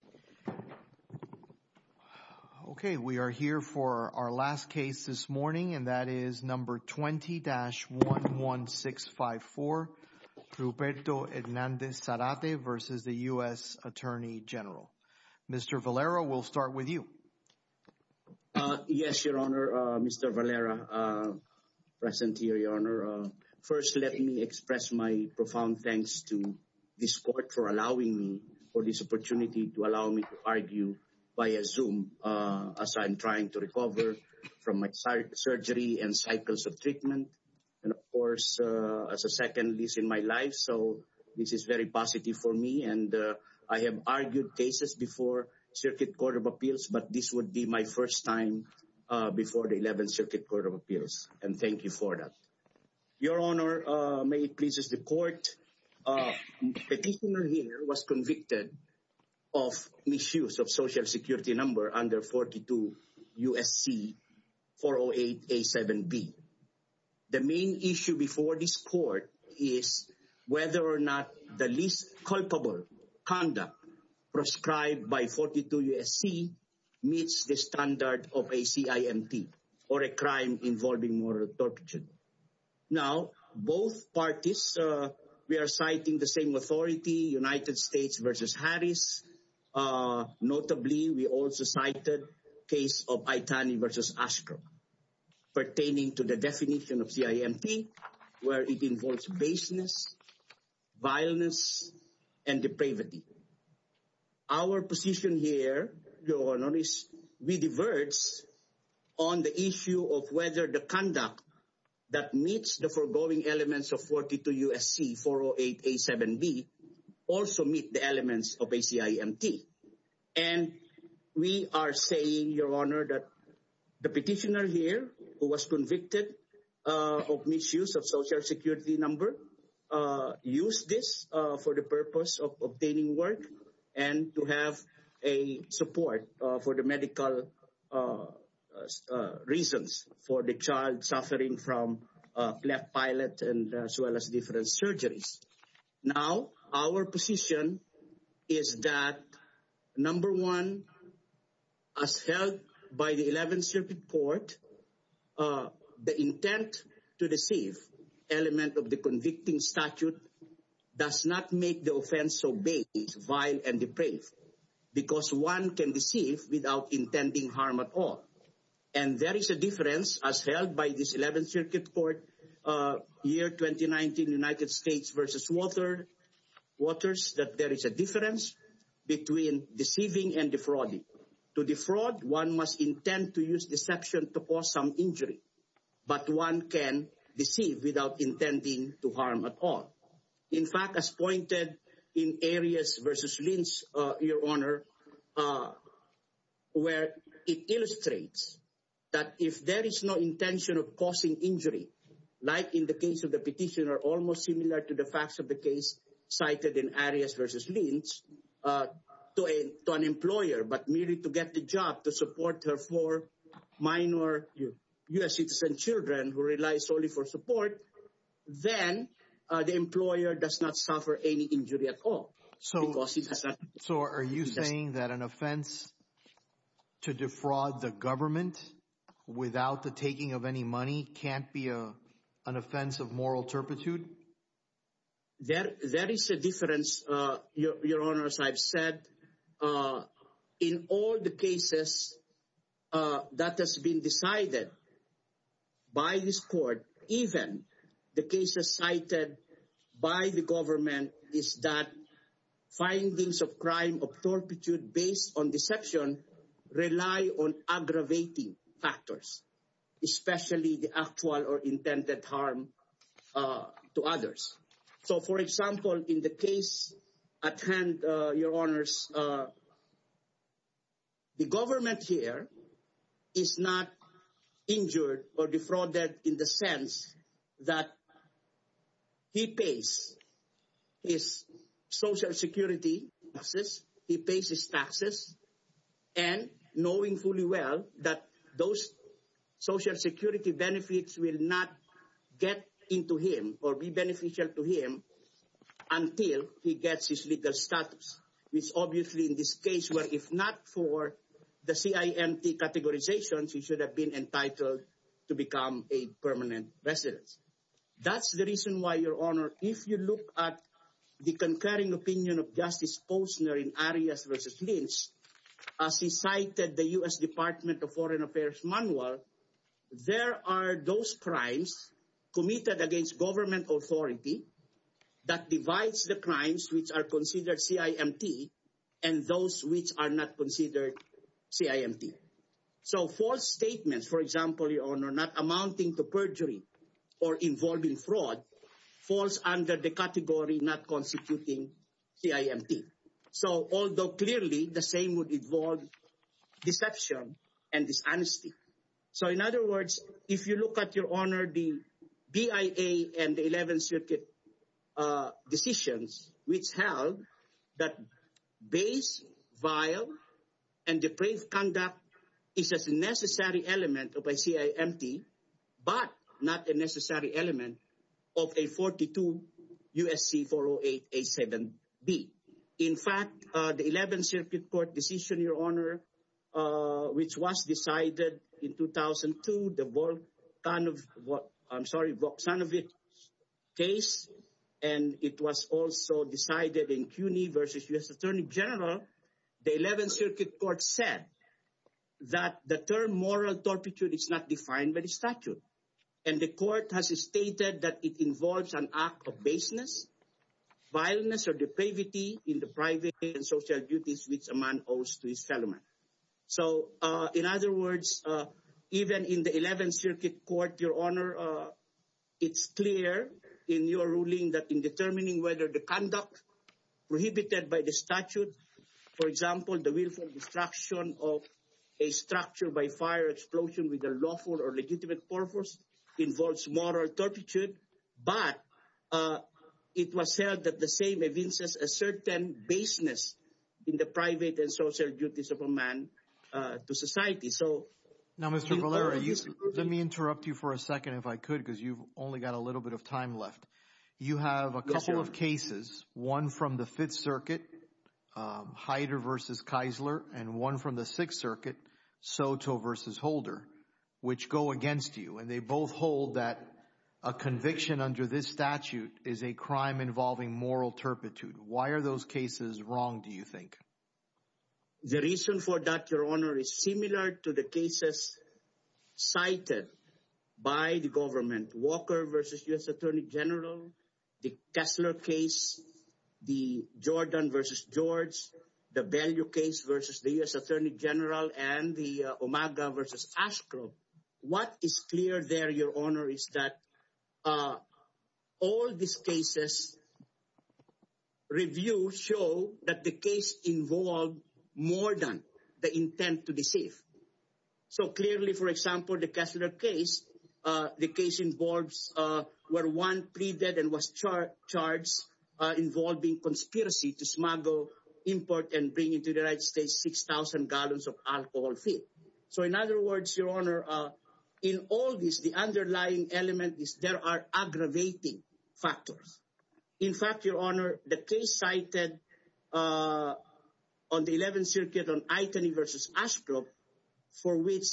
Mr. Valera, we'll start with you. Yes, Your Honor, Mr. Valera, present here, Your Honor. First, let me express my profound thanks to this court for allowing me, for this opportunity to allow me to speak. For allowing me to argue via Zoom as I'm trying to recover from my surgery and cycles of treatment. And of course, as a second lease in my life, so this is very positive for me. And I have argued cases before Circuit Court of Appeals, but this would be my first time before the 11th Circuit Court of Appeals. And thank you for that. Your Honor, may it please the court. Petitioner here was convicted of misuse of social security number under 42 U.S.C. 408A7B. The main issue before this court is whether or not the least culpable conduct prescribed by 42 U.S.C. meets the standard of a CIMT or a crime involving moral torture. Now, both parties, we are citing the same authority, United States v. Harris. Notably, we also cited case of Aitani v. Ashcroft, pertaining to the definition of CIMT, where it involves baseness, violence, and depravity. Our position here, Your Honor, is we diverge on the issue of whether the conduct that meets the foregoing elements of 42 U.S.C. 408A7B also meet the elements of a CIMT. And we are saying, Your Honor, that the petitioner here who was convicted of misuse of social security number used this for the purpose of obtaining work and to have a support for the medical reasons for the child suffering from left pilot and as well as different surgeries. Now, our position is that, number one, as held by the 11th Circuit Court, the intent to deceive element of the convicting statute does not make the offense so vague, vile, and depraved because one can deceive without intending harm at all. And there is a difference, as held by this 11th Circuit Court, year 2019, United States v. Waters, that there is a difference between deceiving and defrauding. To defraud, one must intend to use deception to cause some injury, but one can deceive without intending to harm at all. In fact, as pointed in Arias v. Lynch, Your Honor, where it illustrates that if there is no intention of causing injury, like in the case of the petitioner, almost similar to the facts of the case cited in Arias v. Lynch, to an employer, but merely to get the job to support her four minor U.S. citizen children who relies solely for support, then the employer does not suffer any injury at all. So are you saying that an offense to defraud the government without the taking of any money can't be an offense of moral turpitude? There is a difference, Your Honor, as I've said. In all the cases that has been decided by this court, even the cases cited by the government, is that findings of crime of turpitude based on deception rely on aggravating factors, especially the actual or intended harm to others. So, for example, in the case at hand, Your Honors, the government here is not injured or defrauded in the sense that he pays his Social Security taxes, he pays his taxes, and knowing fully well that those Social Security benefits will not get into him or be beneficial to him until he gets his legal status. It's obviously in this case where if not for the CIMT categorizations, he should have been entitled to become a permanent resident. That's the reason why, Your Honor, if you look at the concurring opinion of Justice Posner in Arias v. Lynch, as he cited the U.S. Department of Foreign Affairs manual, there are those crimes committed against government authority that divides the crimes which are considered CIMT and those which are not considered CIMT. So false statements, for example, Your Honor, not amounting to perjury or involving fraud falls under the category not constituting CIMT. So although clearly the same would involve deception and dishonesty. So, in other words, if you look at, Your Honor, the BIA and the 11th Circuit decisions which held that base, vile, and depraved conduct is a necessary element of a CIMT but not a necessary element of a 42 U.S.C. 408 A7B. In fact, the 11th Circuit Court decision, Your Honor, which was decided in 2002, the Voxanovic case, and it was also decided in CUNY v. U.S. Attorney General, the 11th Circuit Court said that the term moral torpitude is not defined by the statute. And the Court has stated that it involves an act of baseness, vileness, or depravity in the private and social duties which a man owes to his fellow man. So, in other words, even in the 11th Circuit Court, Your Honor, it's clear in your ruling that in determining whether the conduct prohibited by the statute, for example, the willful destruction of a structure by fire explosion with a lawful or legitimate purpose involves moral torpitude. But it was said that the same evinces a certain baseness in the private and social duties of a man to society. Now, Mr. Valera, let me interrupt you for a second if I could because you've only got a little bit of time left. You have a couple of cases, one from the 5th Circuit, Hyder v. Keisler, and one from the 6th Circuit, Soto v. Holder, which go against you. And they both hold that a conviction under this statute is a crime involving moral torpitude. Why are those cases wrong, do you think? The reason for that, Your Honor, is similar to the cases cited by the government. Walker v. U.S. Attorney General, the Keisler case, the Jordan v. George, the Bellew case v. the U.S. Attorney General, and the Omega v. Ashcroft. What is clear there, Your Honor, is that all these cases reviewed show that the case involved more than the intent to deceive. So clearly, for example, the Keisler case, the case involves where one pleaded and was charged involving conspiracy to smuggle, import, and bring into the United States 6,000 gallons of alcohol fee. So in other words, Your Honor, in all this, the underlying element is there are aggravating factors. In fact, Your Honor, the case cited on the 11th Circuit on Itany v. Ashcroft, for which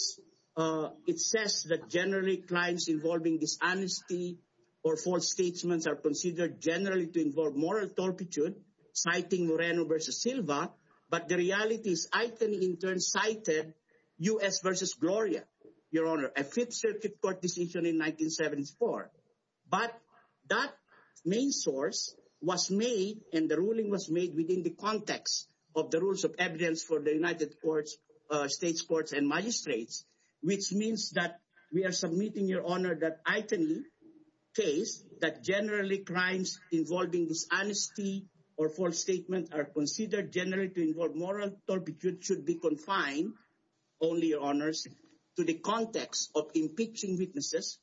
it says that generally crimes involving dishonesty or false statements are considered generally to involve moral torpitude, citing Moreno v. Silva, but the reality is Itany in turn cited U.S. v. Gloria, Your Honor, a Fifth Circuit court decision in 1974. But that main source was made and the ruling was made within the context of the rules of evidence for the United States courts and magistrates, which means that we are submitting, Your Honor, that Itany case that generally crimes involving dishonesty or false statements are considered generally to involve moral torpitude and it should be confined, only, Your Honors, to the context of impeaching witnesses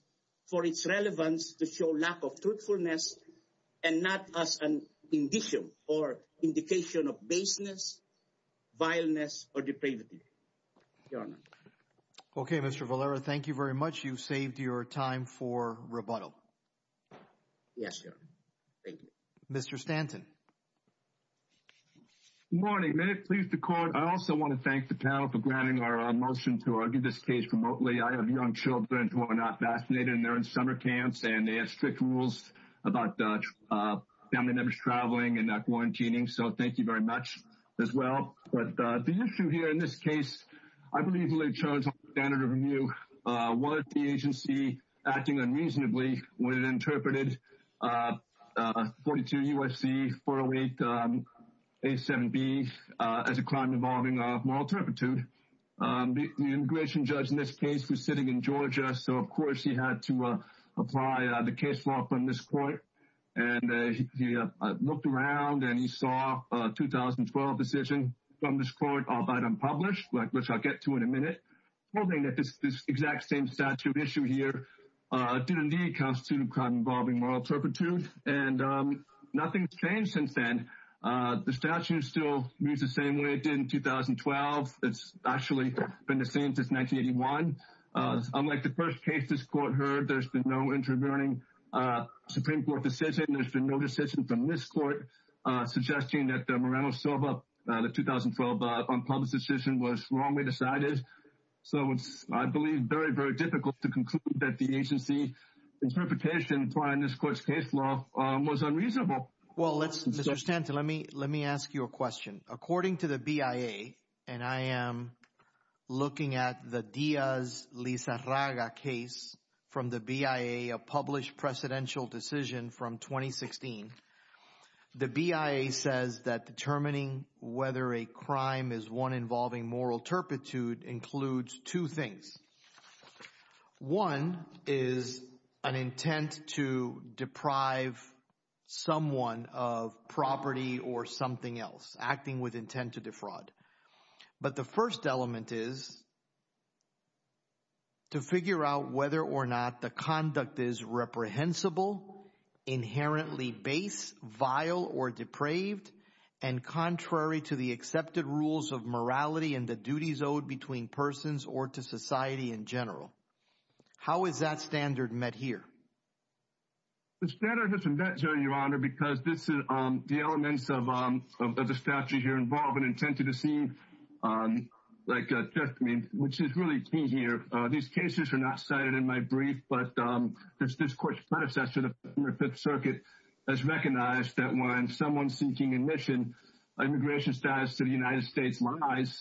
for its relevance to show lack of truthfulness and not as an indication or indication of baseness, vileness, or depravity. Your Honor. Okay, Mr. Valera, thank you very much. You've saved your time for rebuttal. Yes, Your Honor. Thank you. Mr. Stanton. Good morning. May it please the Court, I also want to thank the panel for granting our motion to argue this case remotely. I have young children who are not vaccinated and they're in summer camps and they have strict rules about family members traveling and not quarantining, so thank you very much as well. But the issue here in this case, I believe, in lay terms of the standard of review, was the agency acting unreasonably when it interpreted 42 U.S.C. 408 A7B as a crime involving moral torpitude. The immigration judge in this case was sitting in Georgia, so of course he had to apply the case law from this court. And he looked around and he saw a 2012 decision from this court of item published, which I'll get to in a minute, holding that this exact same statute issue here did indeed constitute a crime involving moral torpitude. And nothing's changed since then. The statute still reads the same way it did in 2012. It's actually been the same since 1981. Unlike the first case this court heard, there's been no intervening Supreme Court decision. There's been no decision from this court suggesting that the Moreno-Sova 2012 unpublished decision was wrongly decided. So it's, I believe, very, very difficult to conclude that the agency's interpretation applying this court's case law was unreasonable. Well, let's, Mr. Stanton, let me ask you a question. According to the BIA, and I am looking at the Diaz-Lizarraga case from the BIA, a published presidential decision from 2016, the BIA says that determining whether a crime is one involving moral torpitude includes two things. One is an intent to deprive someone of property or something else, acting with intent to defraud. But the first element is to figure out whether or not the conduct is reprehensible, inherently base, vile, or depraved, and contrary to the accepted rules of morality and the duties owed between persons or to society in general. How is that standard met here? The standard isn't met, Your Honor, because the elements of the statute here involve an intent to deceive, which is really key here. These cases are not cited in my brief, but this court's predecessor, the Fifth Circuit, has recognized that when someone's seeking admission, immigration status to the United States lies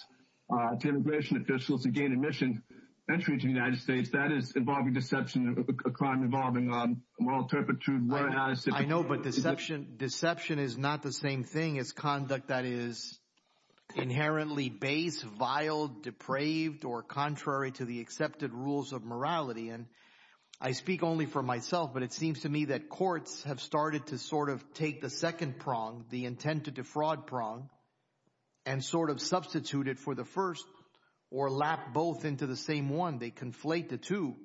to immigration officials to gain admission entry to the United States. That is involving deception, a crime involving moral torpitude. I know, but deception is not the same thing as conduct that is inherently base, vile, depraved, or contrary to the accepted rules of morality. I speak only for myself, but it seems to me that courts have started to sort of take the second prong, the intent to defraud prong, and sort of substitute it for the first or lap both into the same one. They conflate the two,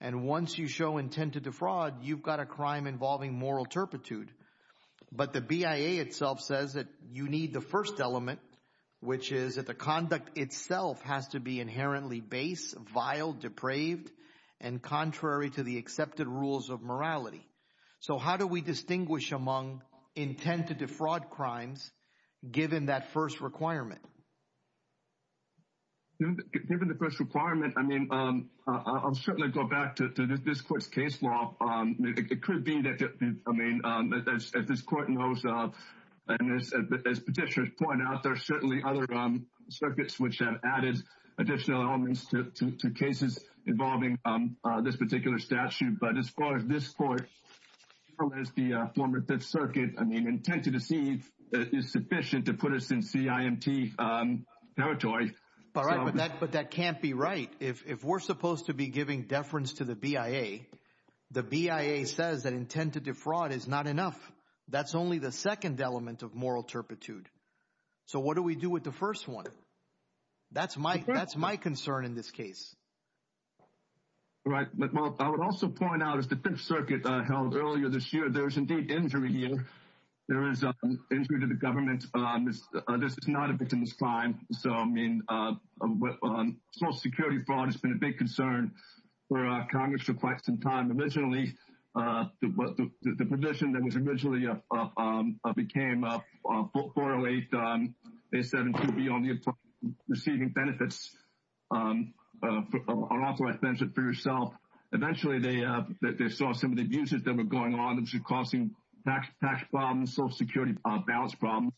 and once you show intent to defraud, you've got a crime involving moral torpitude. But the BIA itself says that you need the first element, which is that the conduct itself has to be inherently base, vile, depraved, and contrary to the accepted rules of morality. So how do we distinguish among intent to defraud crimes given that first requirement? Given the first requirement, I mean, I'll certainly go back to this court's case law. It could be that, I mean, if this court knows, and as petitioners point out, there are certainly other circuits which have added additional elements to cases involving this particular statute. But as far as this court, as far as the former Fifth Circuit, I mean, intent to deceive is sufficient to put us in CIMT territory. All right, but that can't be right. If we're supposed to be giving deference to the BIA, the BIA says that intent to defraud is not enough. That's only the second element of moral torpitude. So what do we do with the first one? That's my concern in this case. Right, but I would also point out, as the Fifth Circuit held earlier this year, there is indeed injury here. There is injury to the government. This is not a victimless crime. So, I mean, Social Security fraud has been a big concern for Congress for quite some time. Originally, the position that was originally became 408-A72B on receiving benefits, unauthorized benefit for yourself. Eventually, they saw some of the abuses that were going on, which were causing tax problems, Social Security balance problems.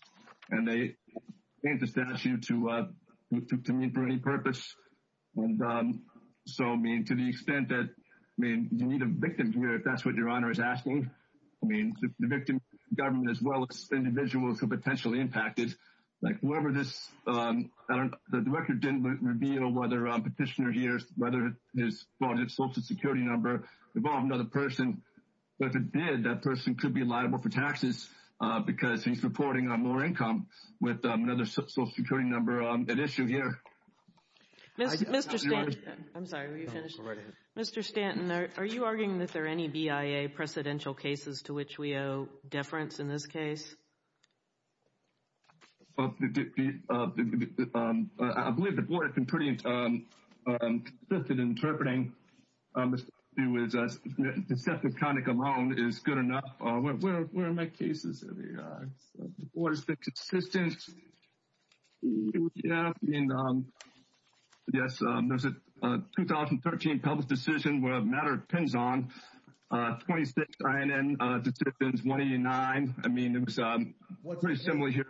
And they changed the statute to mean for any purpose. And so, I mean, to the extent that, I mean, you need a victim here, if that's what Your Honor is asking. I mean, the victim, government, as well as individuals who are potentially impacted. Like whoever this, the record didn't reveal whether a petitioner here, whether his Social Security number involved another person. But if it did, that person could be liable for taxes because he's reporting on lower income with another Social Security number at issue here. Mr. Stanton, I'm sorry, were you finished? Mr. Stanton, are you arguing that there are any BIA precedential cases to which we owe deference in this case? I believe the board has been pretty consistent in interpreting. Deceptive conduct alone is good enough. Where are my cases? The board has been consistent. Yeah, I mean, yes, there's a 2013 public decision where the matter depends on 26 INN decisions, 189. I mean, it was pretty similar here.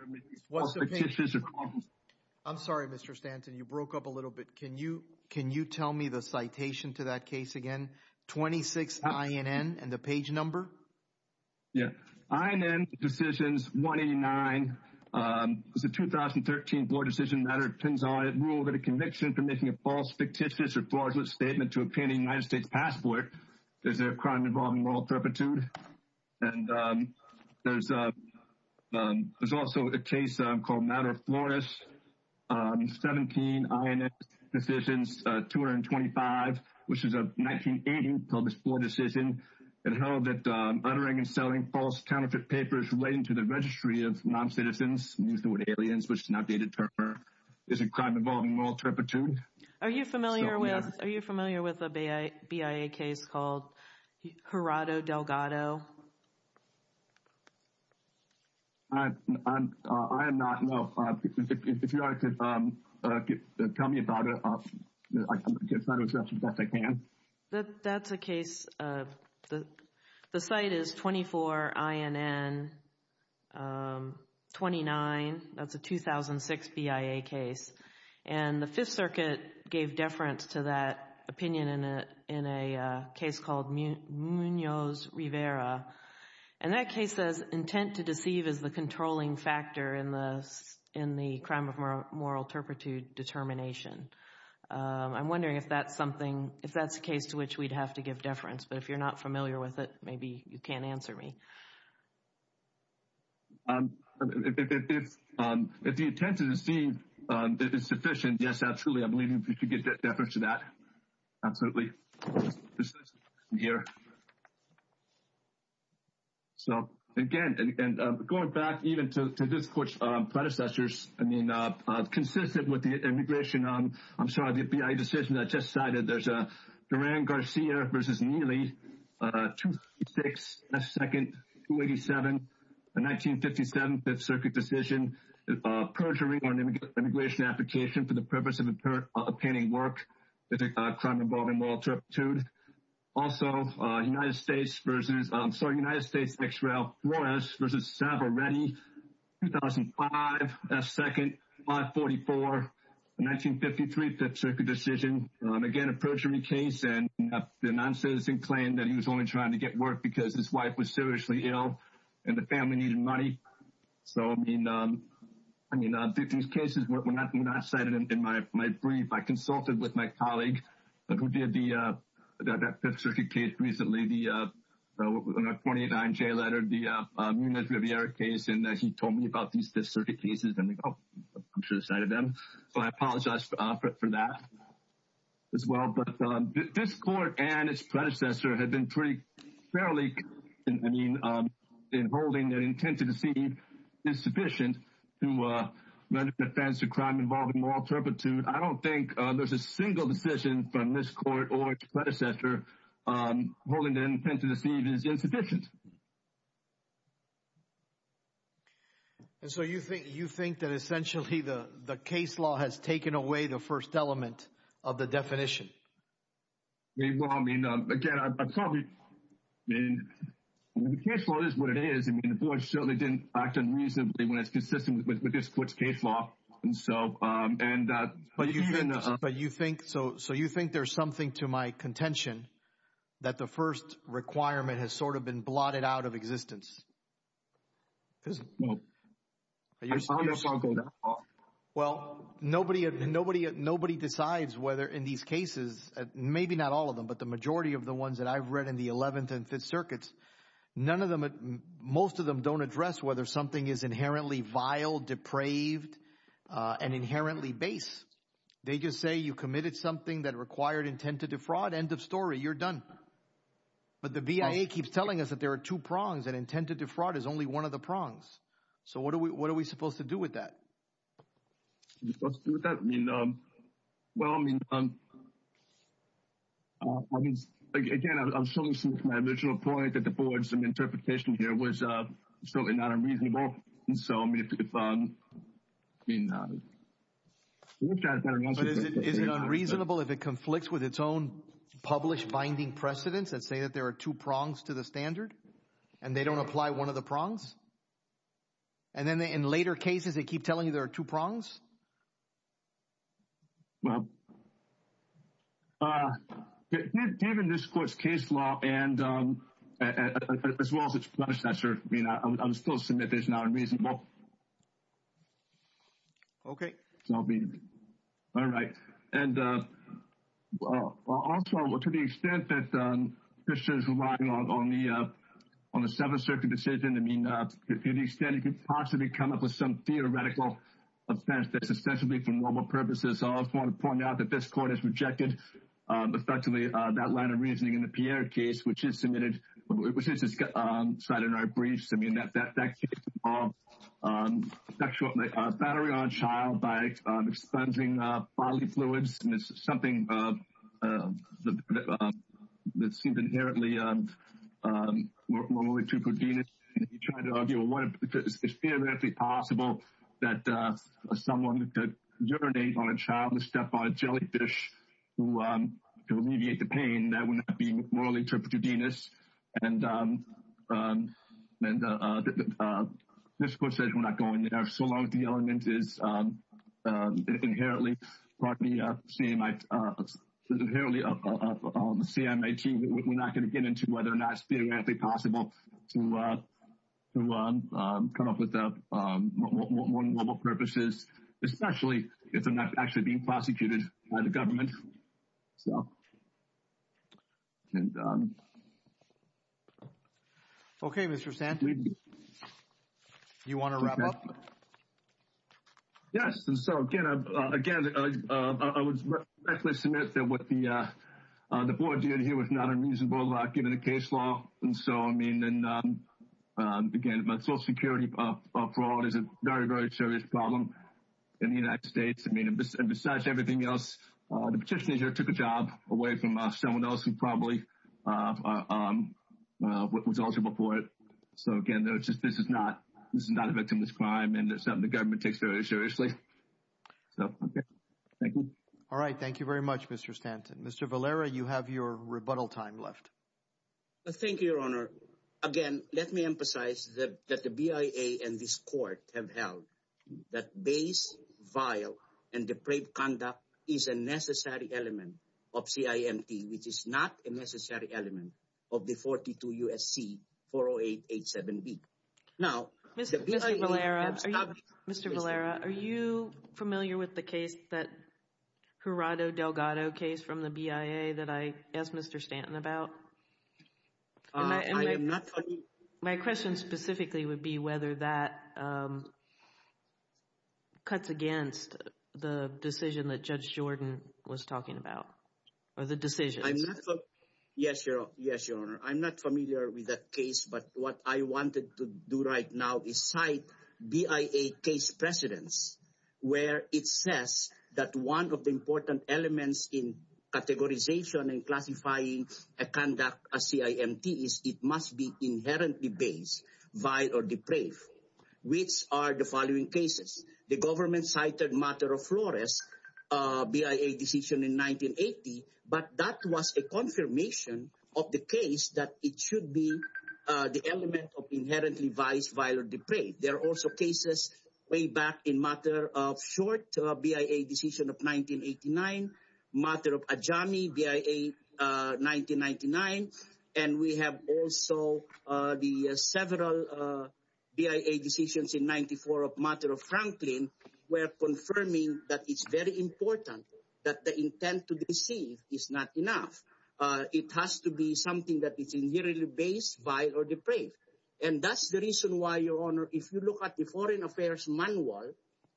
I'm sorry, Mr. Stanton, you broke up a little bit. Can you tell me the citation to that case again? 26 INN and the page number? Yeah, INN decisions 189. It's a 2013 board decision matter. It depends on a rule that a conviction for making a false, fictitious, or fraudulent statement to obtain a United States passport. There's a crime involving moral turpitude. And there's also a case called Matter of Flourish. 17 INN decisions, 225, which is a 1980 public board decision. It held that uttering and selling false counterfeit papers relating to the registry of non-citizens, which is an outdated term, is a crime involving moral turpitude. Are you familiar with a BIA case called Jurado Delgado? I am not, no. If you'd like to tell me about it, I'll try to address it as best I can. That's a case, the site is 24 INN 29. That's a 2006 BIA case. And the Fifth Circuit gave deference to that opinion in a case called Munoz Rivera. And that case says intent to deceive is the controlling factor in the crime of moral turpitude determination. I'm wondering if that's something, if that's a case to which we'd have to give deference. But if you're not familiar with it, maybe you can't answer me. If the intent to deceive is sufficient, yes, absolutely. I believe we could give deference to that. Absolutely. Here. So, again, going back even to this court's predecessors, I mean, consistent with the immigration, I'm sorry, the BIA decision I just cited, there's a Duran Garcia versus Neely, 2006 S. 2nd, 287, a 1957 Fifth Circuit decision, perjury on immigration application for the purpose of obtaining work, a crime involving moral turpitude. Also, United States versus, I'm sorry, United States X. Ralph Flores versus Savaretti, 2005 S. 2nd, 544, a 1953 Fifth Circuit decision, again, a perjury case, and the non-citizen claimed that he was only trying to get work because his wife was seriously ill and the family needed money. So, I mean, these cases were not cited in my brief. I consulted with my colleague who did the Fifth Circuit case recently, the 28-9J letter, the Muniz-Riviera case, and he told me about these Fifth Circuit cases, and I'm like, oh, I should have cited them. So I apologize for that. As well, but this court and its predecessor had been pretty fairly, I mean, in holding that intent to deceive is sufficient to render defense to crime involving moral turpitude. I don't think there's a single decision from this court or its predecessor holding the intent to deceive is insufficient. And so you think that essentially the case law has taken away the first element of the definition? Well, I mean, again, I probably, I mean, the case law is what it is. I mean, the board certainly didn't act unreasonably when it's consistent with this court's case law. But you think, so you think there's something to my contention that the first requirement has sort of been blocked and blotted out of existence? No. Well, nobody decides whether in these cases, maybe not all of them, but the majority of the ones that I've read in the 11th and Fifth Circuits, none of them, most of them don't address whether something is inherently vile, depraved, and inherently base. They just say you committed something that required intent to defraud, end of story, you're done. But the VIA keeps telling us that there are two prongs and intent to defraud is only one of the prongs. So what are we supposed to do with that? What are we supposed to do with that? I mean, well, I mean, again, I'm showing my original point that the board's interpretation here was certainly not unreasonable. And so, I mean, if, I mean, Is it unreasonable if it conflicts with its own published binding precedents that say that there are two prongs to the standard and they don't apply one of the prongs? And then in later cases, they keep telling you there are two prongs? Well, given this court's case law and as well as its punishment, I mean, I'm still submitting it's not unreasonable. Okay. All right. And also to the extent that this is relying on the Seventh Circuit decision, I mean, to the extent it could possibly come up with some theoretical offense that's ostensibly for normal purposes. I also want to point out that this court has rejected, effectively, that line of reasoning in the Pierre case, which is submitted, which is cited in our briefs. I mean, that case involved sexual battery on a child by expunging bodily fluids. And this is something that seems inherently morally true for DENIS. And if you try to argue, well, it's theoretically possible that someone could urinate on a child and step on a jellyfish to alleviate the pain, that would not be morally true for DENIS. And this court says we're not going there. So long as the element is inherently, pardon me, CMIT, inherently CMIT, we're not going to get into whether or not it's theoretically possible to come up with more normal purposes, especially if they're not actually being prosecuted by the government. So. Okay, Mr. Sandberg. You want to wrap up? Yes. And so, again, I would directly submit that what the board did here was not unreasonable, given the case law. And so, I mean, and again, Social Security fraud is a very, very serious problem in the United States. I mean, and besides everything else, the petitioner took a job away from someone else who probably was eligible for it. So, again, this is not a victimless crime and it's something the government takes very seriously. So, okay. Thank you. All right. Thank you very much, Mr. Stanton. Mr. Valera, you have your rebuttal time left. Thank you, Your Honor. Again, let me emphasize that the BIA and this court have held that base, vile, and depraved conduct is a necessary element of CIMT, which is not a necessary element of the 42 U.S.C. 40887B. Mr. Valera, are you familiar with the case, that Gerardo Delgado case from the BIA that I asked Mr. Stanton about? I am not familiar. My question specifically would be whether that cuts against the decision that Judge Jordan was talking about, or the decisions. Yes, Your Honor. I'm not familiar with that case, but what I wanted to do right now is cite BIA case precedents where it says that one of the important elements in categorization and classifying a conduct as CIMT is it must be inherently base, vile, or depraved, which are the following cases. The government cited Matter of Flores, BIA decision in 1980, but that was a confirmation of the case that it should be the element of inherently vice, vile, or depraved. There are also cases way back in Matter of Short, BIA decision of 1989, Matter of Ajami, BIA 1999, and we have also the several BIA decisions in 1994 of Matter of Franklin where confirming that it's very important that the intent to deceive is not enough. It has to be something that is inherently base, vile, or depraved. And that's the reason why, Your Honor, if you look at the Foreign Affairs Manual,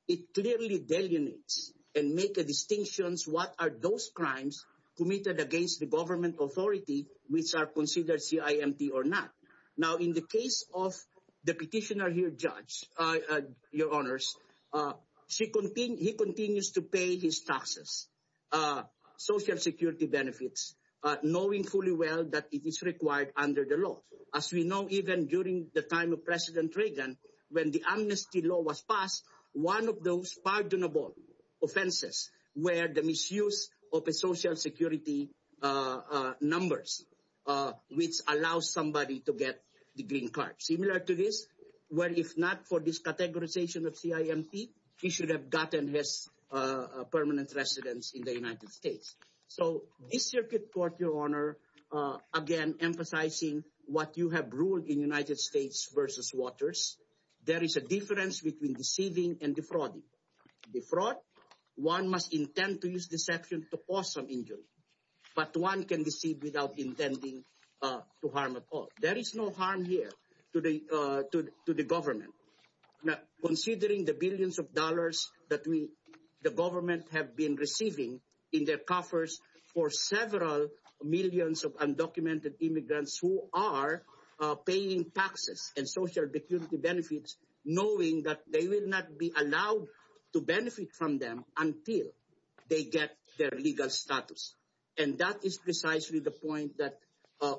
it clearly delineates and makes a distinction what are those crimes committed against the government authority which are considered CIMT or not. Now, in the case of the petitioner here, Judge, Your Honors, he continues to pay his taxes, social security benefits, knowing fully well that it is required under the law. As we know, even during the time of President Reagan, when the amnesty law was passed, one of those pardonable offenses were the misuse of social security numbers which allows somebody to get the green card. Similar to this, this categorization of CIMT, he should have gotten his permanent residence in the United States. So, this Circuit Court, Your Honor, again, emphasizing what you have ruled in United States versus Waters, there is a difference between deceiving and defrauding. Defraud, one must intend to use deception to cause some injury. But one can deceive without intending to harm at all. There is no harm here to the government. Now, considering the billions of dollars that the government have been receiving in their coffers for several millions of undocumented immigrants who are paying taxes and social security benefits, knowing that they will not be allowed to benefit from them until they get their legal status. And that is precisely the point that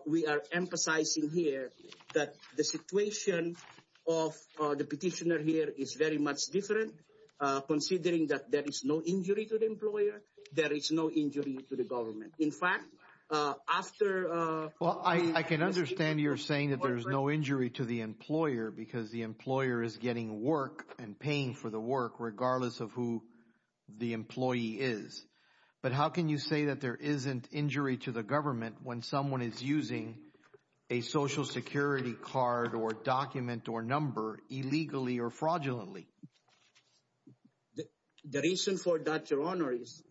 we are emphasizing here, that the situation of the petitioner here is very much different, considering that there is no injury to the employer, there is no injury to the government. In fact, after... Well, I can understand you're saying that there is no injury to the employer because the employer is getting work and paying for the work regardless of who the employee is. But how can you say that there isn't injury to the government when someone is using a social security card or document or number illegally or fraudulently? The reason for that, Your Honor, is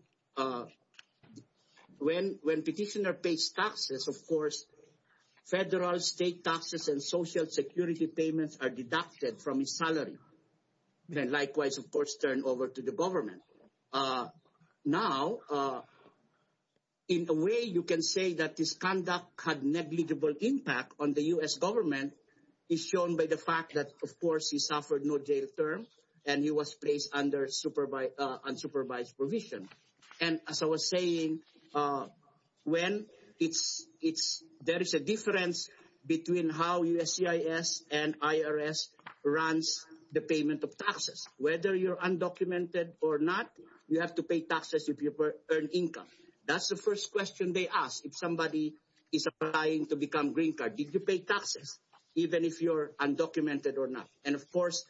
when petitioner pays taxes, of course, federal, state taxes and social security payments are deducted from his salary and likewise, of course, turned over to the government. Now, in a way, you can say that this conduct had negligible impact on the U.S. government is shown by the fact that, of course, he suffered no jail term and he was placed under unsupervised provision. And as I was saying, when it's... There is a difference between how USCIS and IRS runs the payment of taxes. Whether you're undocumented or not, you have to pay taxes if you earn income. That's the first question they ask if somebody is applying to become green card. Did you pay taxes? Even if you're undocumented or not. And, of course,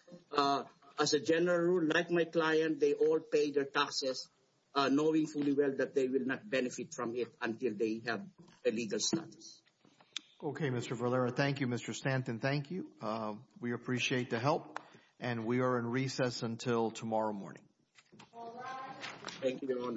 as a general rule, like my client, they all pay their taxes knowing fully well that they will not benefit from it until they have a legal status. Okay, Mr. Valera. Thank you, Mr. Stanton. Thank you. We appreciate the help and we are in recess until tomorrow morning. Thank you, Your Honor. Thank you.